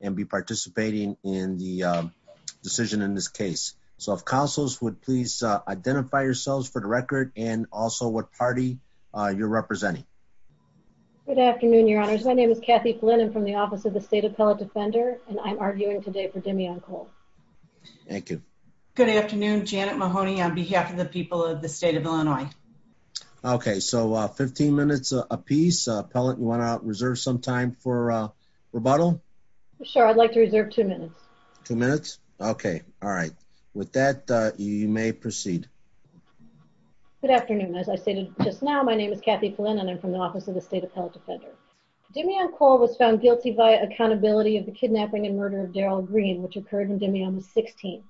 and be participating in the decision in this case. So if councils would please identify yourselves for the record and also what party you're representing. Good afternoon, your honors. My name is Kathy Flynn. I'm from the Office of the State Appellate Defender, and I'm arguing today for Demian Cole. Thank you. Good afternoon. Janet Mahoney on behalf of the people of the state of Illinois. Okay, so 15 minutes a piece. Appellant, you want to reserve some time for rebuttal? Sure. I'd like to reserve two minutes. Two minutes? Okay. All right. With that, you may proceed. Good afternoon. As I stated just now, my name is Kathy Flynn, and I'm from the Office of the State Appellate Defender. Demian Cole was found guilty by accountability of the kidnapping and murder of Daryl Green, which occurred when Demian was 16.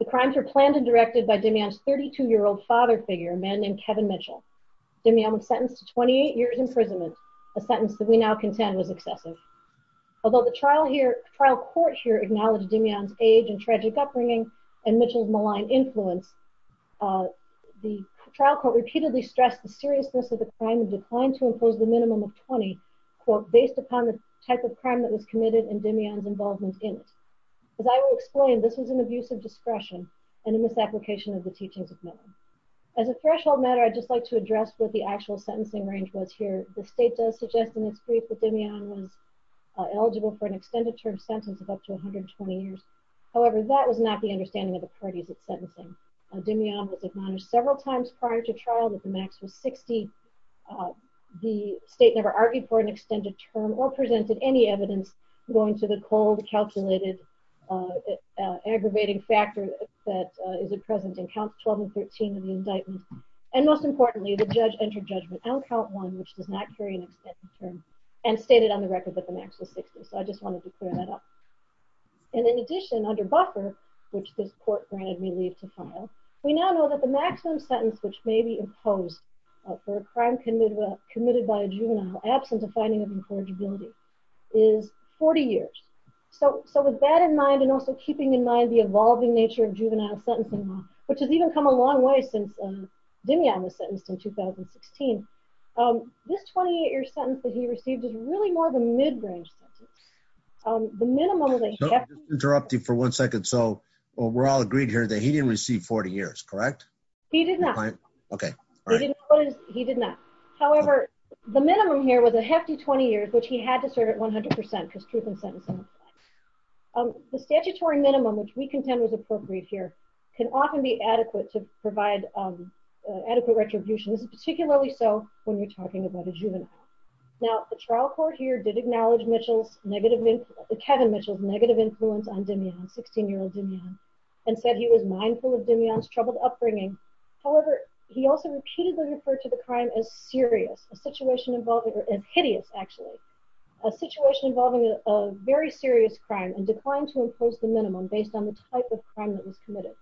The crimes were planned and directed by Demian's 32-year-old father figure, a man named Kevin Mitchell. Demian was sentenced to 28 years imprisonment, a sentence that we now contend was excessive. Although the trial court here acknowledged Demian's age and tragic upbringing and Mitchell's malign influence, the trial court repeatedly stressed the seriousness of the crime and declined to impose the minimum of 20, quote, based upon the type of crime that was committed and Demian's involvement in it. As I will explain, this was an abuse of discretion and a misapplication of the teachings of Miller. As a threshold matter, I'd just like to address what the actual sentencing range was here. The state does suggest in its brief that Demian was eligible for an extended term sentence of up to 120 years. However, that was not the understanding of the parties at sentencing. Demian was acknowledged several times prior to trial that the max was 60. The state never argued for an extended term or presented any evidence going to the cold, calculated, aggravating factor that is present in count 12 and 13 of the indictment. And most importantly, the judge entered judgment on count one, which does not carry an extended term, and stated on the record that the max was 60. So I just wanted to clear that up. And in addition, under buffer, which this court granted me leave to file, we now know that the maximum sentence which may be imposed for a crime committed by a juvenile, absent a finding of incorrigibility, is 40 years. So with that in mind, and also keeping in mind the evolving nature of juvenile sentencing law, which has even come a long way since Demian was sentenced in 2016, this 28-year sentence that he received is really more of a mid-range sentence. The minimum is a hefty 20 years. I'll interrupt you for one second. So we're all agreed here that he didn't receive 40 years, correct? He did not. Okay. He did not. However, the minimum here was a hefty 20 years, which he had to serve at 100% because truth in sentencing law. The statutory minimum, which we contend was appropriate here, can often be adequate to provide adequate retribution. This is particularly so when we're talking about a juvenile. Now, the trial court here did acknowledge Kevin Mitchell's negative influence on Demian, 16-year-old Demian, and said he was mindful of Demian's troubled upbringing. However, he also repeatedly referred to the crime as serious, a situation involving, or hideous, actually, a situation involving a very serious crime and declined to impose the minimum based on the type of crime that was committed.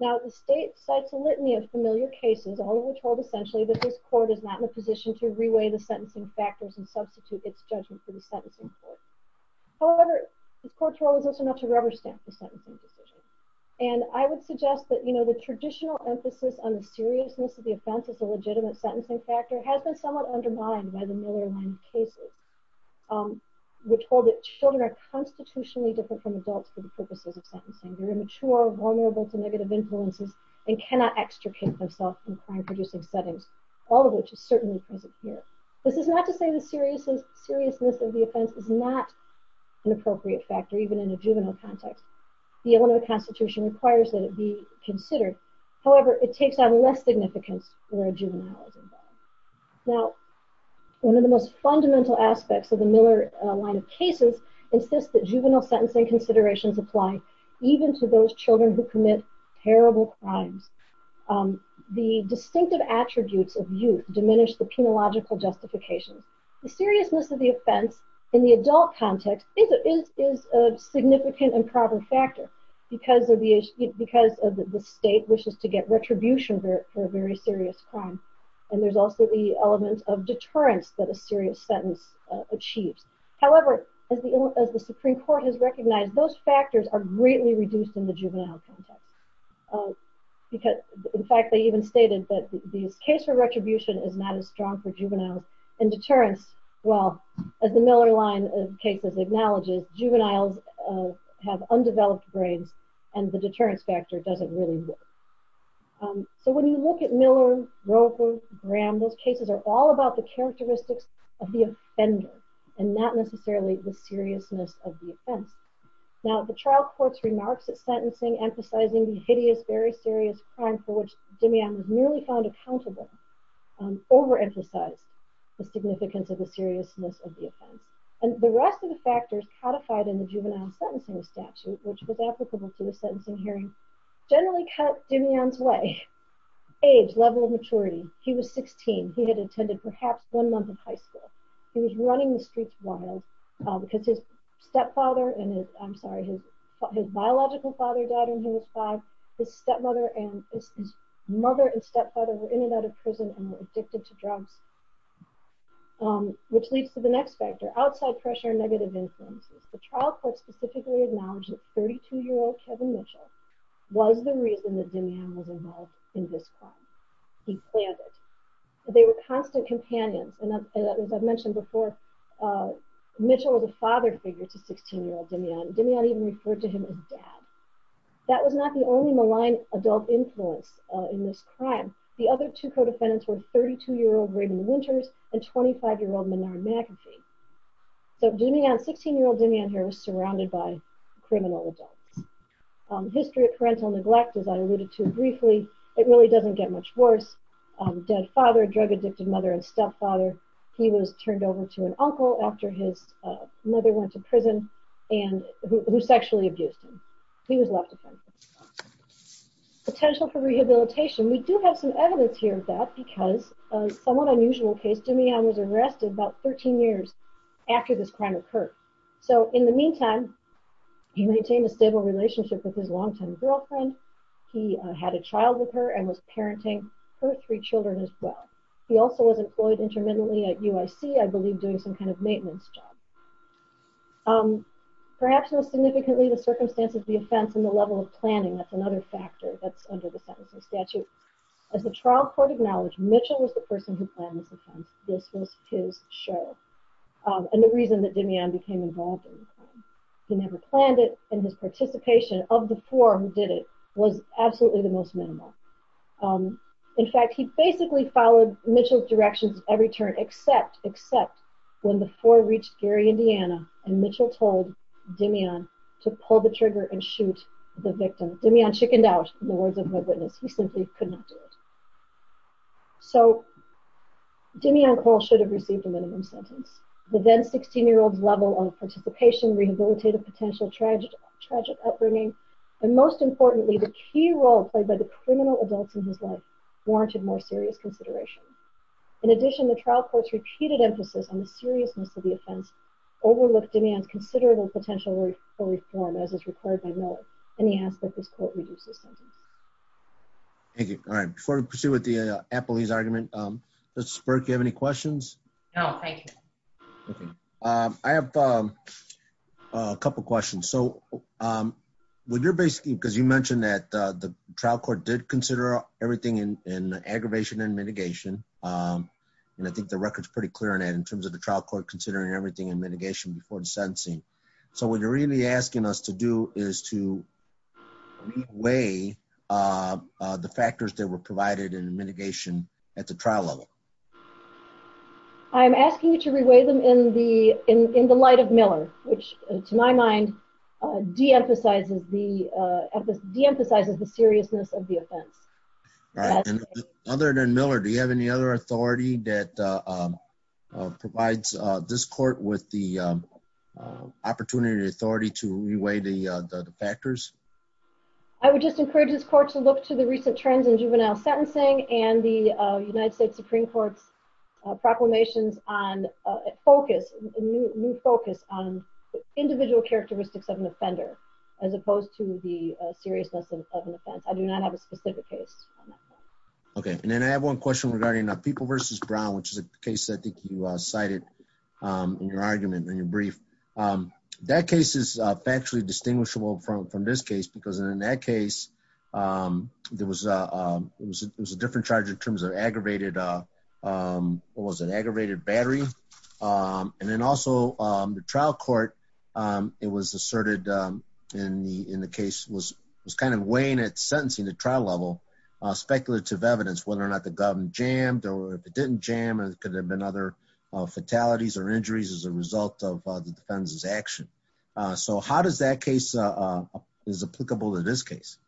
Now, the state cites a litany of familiar cases, all of which hold essentially that this court is not in a position to reweigh the sentencing factors and substitute its judgment for the sentencing court. However, this court's role is also not to rubber stamp the sentencing decision. And I would suggest that the traditional emphasis on the seriousness of the offense as a legitimate sentencing factor has been somewhat undermined by the Miller line of cases, which hold that children are constitutionally different from adults for the purposes of sentencing. They're immature, vulnerable to negative influences, and cannot extricate themselves in crime-producing settings, all of which is certainly present here. This is not to say the seriousness of the offense is not an appropriate factor, even in a juvenile context. The element of the Constitution requires that it be considered. However, it takes on less significance where a juvenile is involved. Now, one of the most fundamental aspects of the Miller line of cases insists that juvenile sentencing considerations apply even to those children who commit terrible crimes. The distinctive attributes of youth diminish the penological justification. The seriousness of the offense in the adult context is a significant and proper factor because the state wishes to get retribution for a very serious crime. And there's also the element of deterrence that a serious sentence achieves. However, as the Supreme Court has recognized, those factors are greatly reduced in the juvenile context. In fact, they even stated that the case for retribution is not as strong for juveniles, and deterrence, well, as the Miller line of cases acknowledges, juveniles have undeveloped brains, and the deterrence factor doesn't really work. So when you look at Miller, Grover, Graham, those cases are all about the characteristics of the offender. And not necessarily the seriousness of the offense. Now, the trial court's remarks at sentencing emphasizing the hideous, very serious crime for which Demian was nearly found accountable, overemphasized the significance of the seriousness of the offense. And the rest of the factors codified in the juvenile sentencing statute, which was applicable to the sentencing hearing, generally cut Demian's way. Age, level of maturity. He was 16. He had attended perhaps one month of high school. He was running the streets wild because his biological father died when he was five. His mother and stepfather were in and out of prison and were addicted to drugs. Which leads to the next factor, outside pressure and negative influences. The trial court specifically acknowledged that 32-year-old Kevin Mitchell was the reason that Demian was involved in this crime. He planned it. They were constant companions. And as I mentioned before, Mitchell was a father figure to 16-year-old Demian. Demian even referred to him as dad. That was not the only malign adult influence in this crime. The other two co-defendants were 32-year-old Raymond Winters and 25-year-old Menard McAfee. So Demian, 16-year-old Demian here, was surrounded by criminal adults. History of parental neglect, as I alluded to briefly, it really doesn't get much worse. Dead father, drug-addicted mother, and stepfather. He was turned over to an uncle after his mother went to prison, who sexually abused him. He was left to fend for himself. Potential for rehabilitation, we do have some evidence here of that because of a somewhat unusual case. Demian was arrested about 13 years after this crime occurred. So in the meantime, he maintained a stable relationship with his longtime girlfriend. He had a child with her and was parenting her three children as well. He also was employed intermittently at UIC, I believe doing some kind of maintenance job. Perhaps most significantly, the circumstances of the offense and the level of planning, that's another factor that's under the Sentencing Statute. As the trial court acknowledged, Mitchell was the person who planned this offense. This was his show. And the reason that Demian became involved in the crime. He never planned it, and his participation of the four who did it was absolutely the most minimal. In fact, he basically followed Mitchell's directions every turn, except when the four reached Gary, Indiana, and Mitchell told Demian to pull the trigger and shoot the victim. Demian chickened out, in the words of my witness. He simply could not do it. So Demian Cole should have received a minimum sentence. The then 16-year-old's level of participation rehabilitated potential tragic upbringing. And most importantly, the key role played by the criminal adults in his life warranted more serious consideration. In addition, the trial court's repeated emphasis on the seriousness of the offense overlooked Demian's considerable potential for reform, as is required by Miller. And he asked that this court reduce his sentence. Thank you. All right. Before we proceed with the appellee's argument, Ms. Spirk, do you have any questions? No, thank you. I have a couple questions. So you mentioned that the trial court did consider everything in aggravation and mitigation, and I think the record's pretty clear on that in terms of the trial court considering everything in mitigation before the sentencing. So what you're really asking us to do is to re-weigh the factors that were provided in mitigation at the trial level. I'm asking you to re-weigh them in the light of Miller, which, to my mind, de-emphasizes the seriousness of the offense. Other than Miller, do you have any other authority that provides this court with the opportunity or authority to re-weigh the factors? I would just encourage this court to look to the recent trends in juvenile sentencing and the United States Supreme Court's proclamations on a new focus on individual characteristics of an offender as opposed to the seriousness of an offense. I do not have a specific case on that. Okay, and then I have one question regarding People v. Brown, which is a case that I think you cited in your argument, in your brief. That case is factually distinguishable from this case because in that case, there was a different charge in terms of aggravated battery. And then also, the trial court, it was asserted in the case, was kind of weighing at sentencing at trial level speculative evidence, whether or not the gun jammed or if it didn't jam, could there have been other fatalities or injuries as a result of the defendant's action. So how does that case is applicable to this case?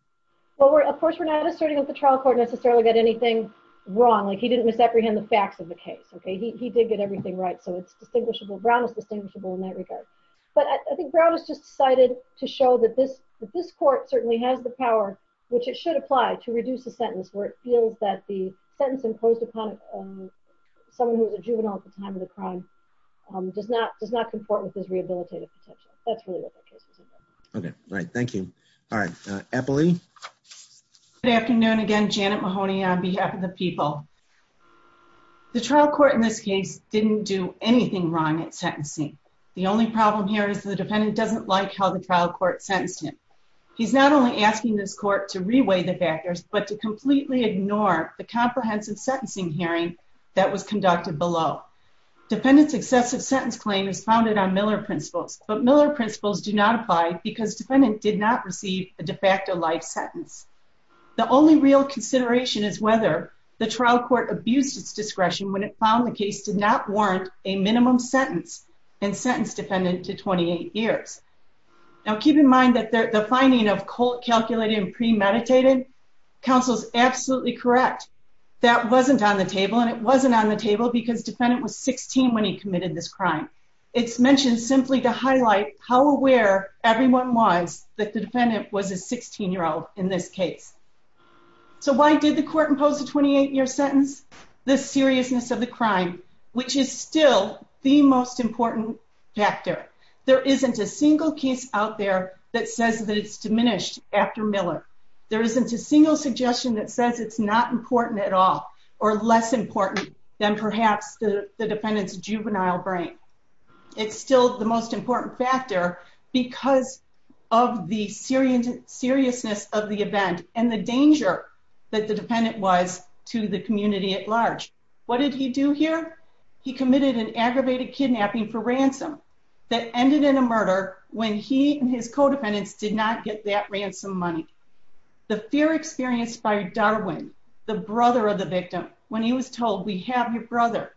Well, of course, we're not asserting that the trial court necessarily got anything wrong. He didn't misapprehend the facts of the case. He did get everything right. So it's distinguishable. Brown is distinguishable in that regard. But I think Brown has just decided to show that this court certainly has the power, which it should apply to reduce the sentence, where it feels that the sentence imposed upon someone who was a juvenile at the time of the crime does not comport with this rehabilitative potential. That's really what the case is about. Okay, right. Thank you. All right. Eppley? Good afternoon again. Janet Mahoney on behalf of the people. The trial court in this case didn't do anything wrong at sentencing. The only problem here is the defendant doesn't like how the trial court sentenced him. He's not only asking this court to reweigh the factors but to completely ignore the comprehensive sentencing hearing that was conducted below. Defendant's excessive sentence claim is founded on Miller principles. But Miller principles do not apply because defendant did not receive a de facto life sentence. The only real consideration is whether the trial court abused its discretion when it found the case did not warrant a minimum sentence and sentence defendant to 28 years. Now, keep in mind that the finding of cult, calculated, and premeditated, counsel's absolutely correct. That wasn't on the table, and it wasn't on the table because defendant was 16 when he committed this crime. It's mentioned simply to highlight how aware everyone was that the defendant was a 16-year-old in this case. So why did the court impose a 28-year sentence? The seriousness of the crime, which is still the most important factor. There isn't a single case out there that says that it's diminished after Miller. There isn't a single suggestion that says it's not important at all or less important than perhaps the defendant's juvenile brain. It's still the most important factor because of the seriousness of the event and the danger that the defendant was to the community at large. What did he do here? He committed an aggravated kidnapping for ransom that ended in a murder when he and his co-defendants did not get that ransom money. The fear experienced by Darwin, the brother of the victim, when he was told, we have your brother.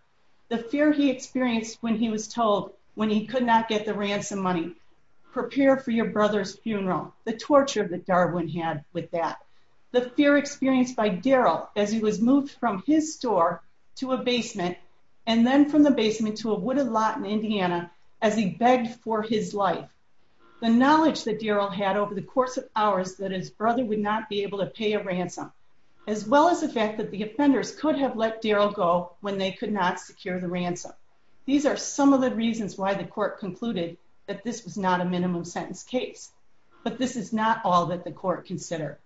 The fear he experienced when he was told when he could not get the ransom money, prepare for your brother's funeral. The torture that Darwin had with that. The fear experienced by Darrell as he was moved from his store to a basement and then from the basement to a wooded lot in Indiana as he begged for his life. The knowledge that Darrell had over the course of hours that his brother would not be able to pay a ransom, as well as the fact that the offenders could have let Darrell go when they could not secure the ransom. These are some of the reasons why the court concluded that this was not a minimum sentence case. But this is not all that the court considered.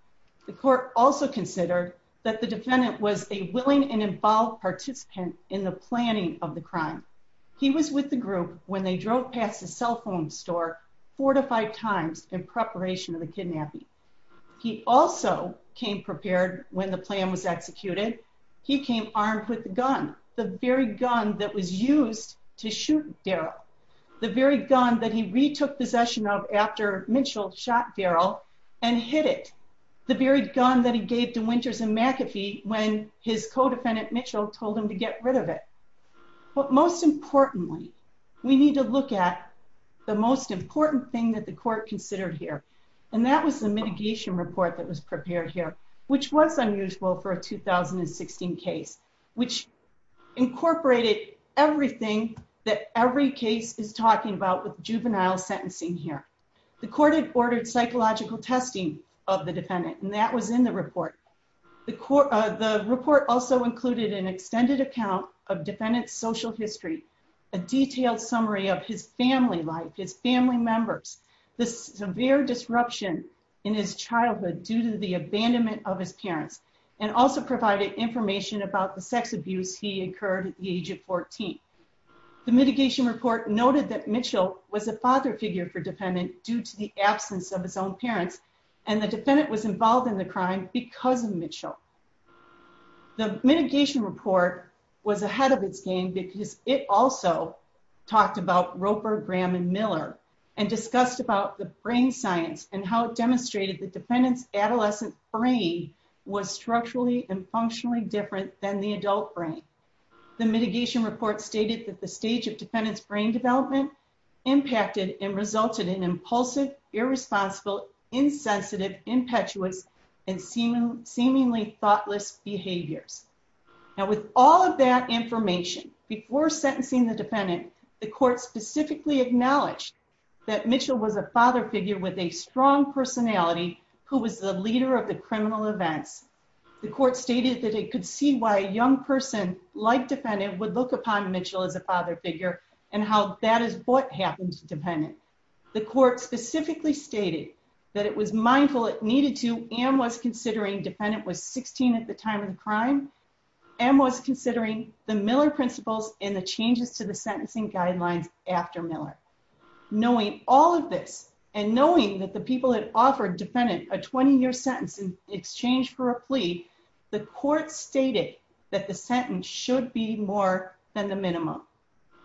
The court also considered that the defendant was a willing and involved participant in the planning of the crime. He was with the group when they drove past the cell phone store four to five times in preparation of the kidnapping. He also came prepared when the plan was executed. He came armed with the gun, the very gun that was used to shoot Darrell. The very gun that he retook possession of after Mitchell shot Darrell and hit it. The very gun that he gave to Winters and McAfee when his co-defendant Mitchell told him to get rid of it. But most importantly, we need to look at the most important thing that the court considered here. And that was the mitigation report that was prepared here, which was unusual for a 2016 case, which incorporated everything that every case is talking about with juvenile sentencing here. The court had ordered psychological testing of the defendant, and that was in the report. The report also included an extended account of defendant's social history, a detailed summary of his family life, his family members. The severe disruption in his childhood due to the abandonment of his parents, and also provided information about the sex abuse he incurred at the age of 14. The mitigation report noted that Mitchell was a father figure for defendant due to the absence of his own parents, and the defendant was involved in the crime because of Mitchell. The mitigation report was ahead of its game because it also talked about Roper, Graham, and Miller, and discussed about the brain science and how it demonstrated the defendant's adolescent brain was structurally and functionally different than the adult brain. The mitigation report stated that the stage of defendant's brain development impacted and resulted in impulsive, irresponsible, insensitive, impetuous, and seemingly thoughtless behaviors. And with all of that information, before sentencing the defendant, the court specifically acknowledged that Mitchell was a father figure with a strong personality who was the leader of the criminal events. The court stated that it could see why a young person like defendant would look upon Mitchell as a father figure, and how that is what happened to defendant. The court specifically stated that it was mindful it needed to, and was considering defendant was 16 at the time of the crime, and was considering the Miller principles and the changes to the sentencing guidelines after Miller. Knowing all of this, and knowing that the people had offered defendant a 20-year sentence in exchange for a plea, the court stated that the sentence should be more than the minimum.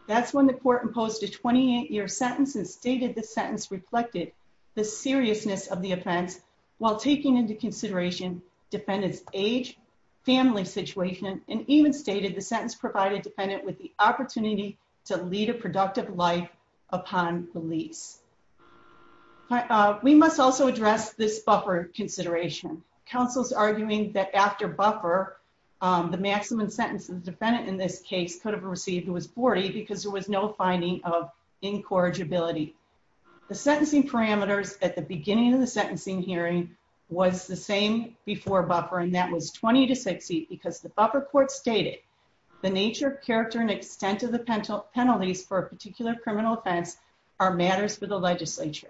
That's when the court imposed a 28-year sentence and stated the sentence reflected the seriousness of the offense, while taking into consideration defendant's age, family situation, and even stated the sentence provided defendant with the opportunity to lead a productive life upon release. We must also address this buffer consideration. Counsel's arguing that after buffer, the maximum sentence the defendant in this case could have received was 40 because there was no finding of incorrigibility. The sentencing parameters at the beginning of the sentencing hearing was the same before buffer, and that was 20 to 60 because the buffer court stated the nature, character, and extent of the penalties for a particular criminal offense are matters for the legislature.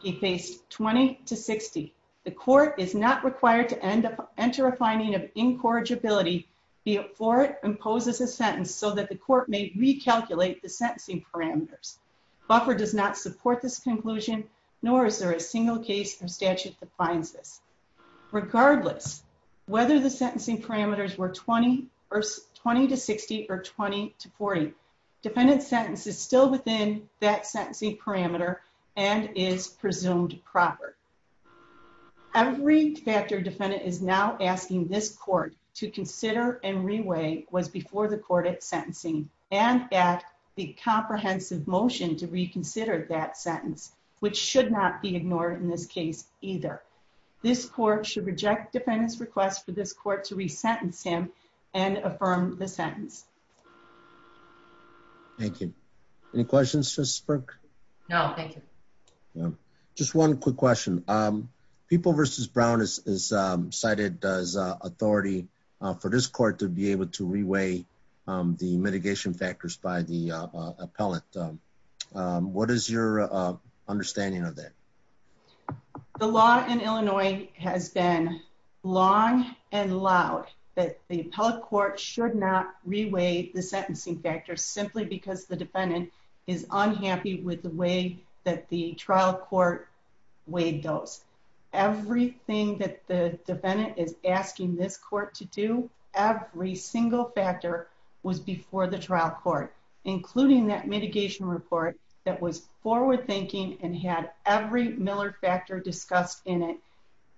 He faced 20 to 60. The court is not required to enter a finding of incorrigibility for it and poses a sentence so that the court may recalculate the sentencing parameters. Buffer does not support this conclusion, nor is there a single case or statute that finds this. Regardless, whether the sentencing parameters were 20 to 60 or 20 to 40, defendant's sentence is still within that sentencing parameter and is presumed proper. Every factor defendant is now asking this court to consider and reweigh was before the court at sentencing and at the comprehensive motion to reconsider that sentence, which should not be ignored in this case, either. This court should reject defendant's request for this court to re-sentence him and affirm the sentence. Thank you. Any questions, Justice Burke? No, thank you. Just one quick question. People v. Brown is cited as authority for this court to be able to reweigh the mitigation factors by the appellate. What is your understanding of that? The law in Illinois has been long and loud that the appellate court should not reweigh the sentencing factors simply because the defendant is unhappy with the way that the trial court weighed those. Everything that the defendant is asking this court to do, every single factor, was before the trial court, including that mitigation report that was forward thinking and had every Miller factor discussed in it,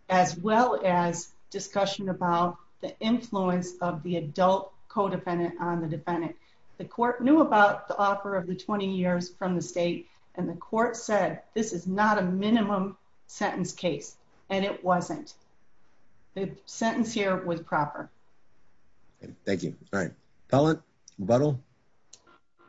as well as discussion about the influence of the adult codependent on the defendant. The court knew about the offer of the 20 years from the state, and the court said, this is not a minimum sentence case, and it wasn't. The sentence here was proper. Thank you. Pellant? Buddle?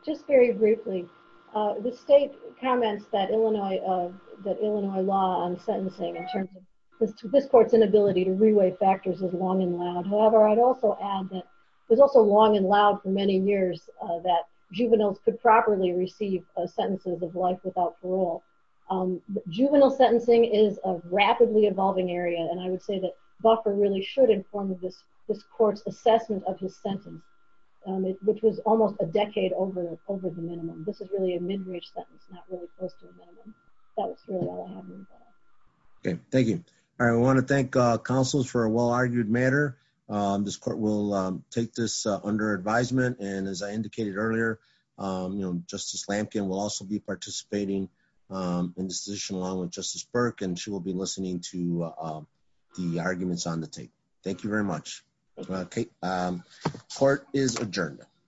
Just very briefly. The state comments that Illinois law on sentencing in terms of this court's inability to reweigh factors is long and loud. However, I'd also add that it was also long and loud for many years that juveniles could properly receive sentences of life without parole. Juvenile sentencing is a rapidly evolving area, and I would say that Buffer really should inform this court's assessment of his sentence, which was almost a decade over the minimum. This is really a mid-range sentence, not really close to a minimum. That's really all I have to say. Thank you. I want to thank counsels for a well-argued matter. This court will take this under advisement, and as I indicated earlier, Justice Lampkin will also be participating in this position along with Justice Burke, and she will be listening to the arguments on the table. Thank you very much. Court is adjourned.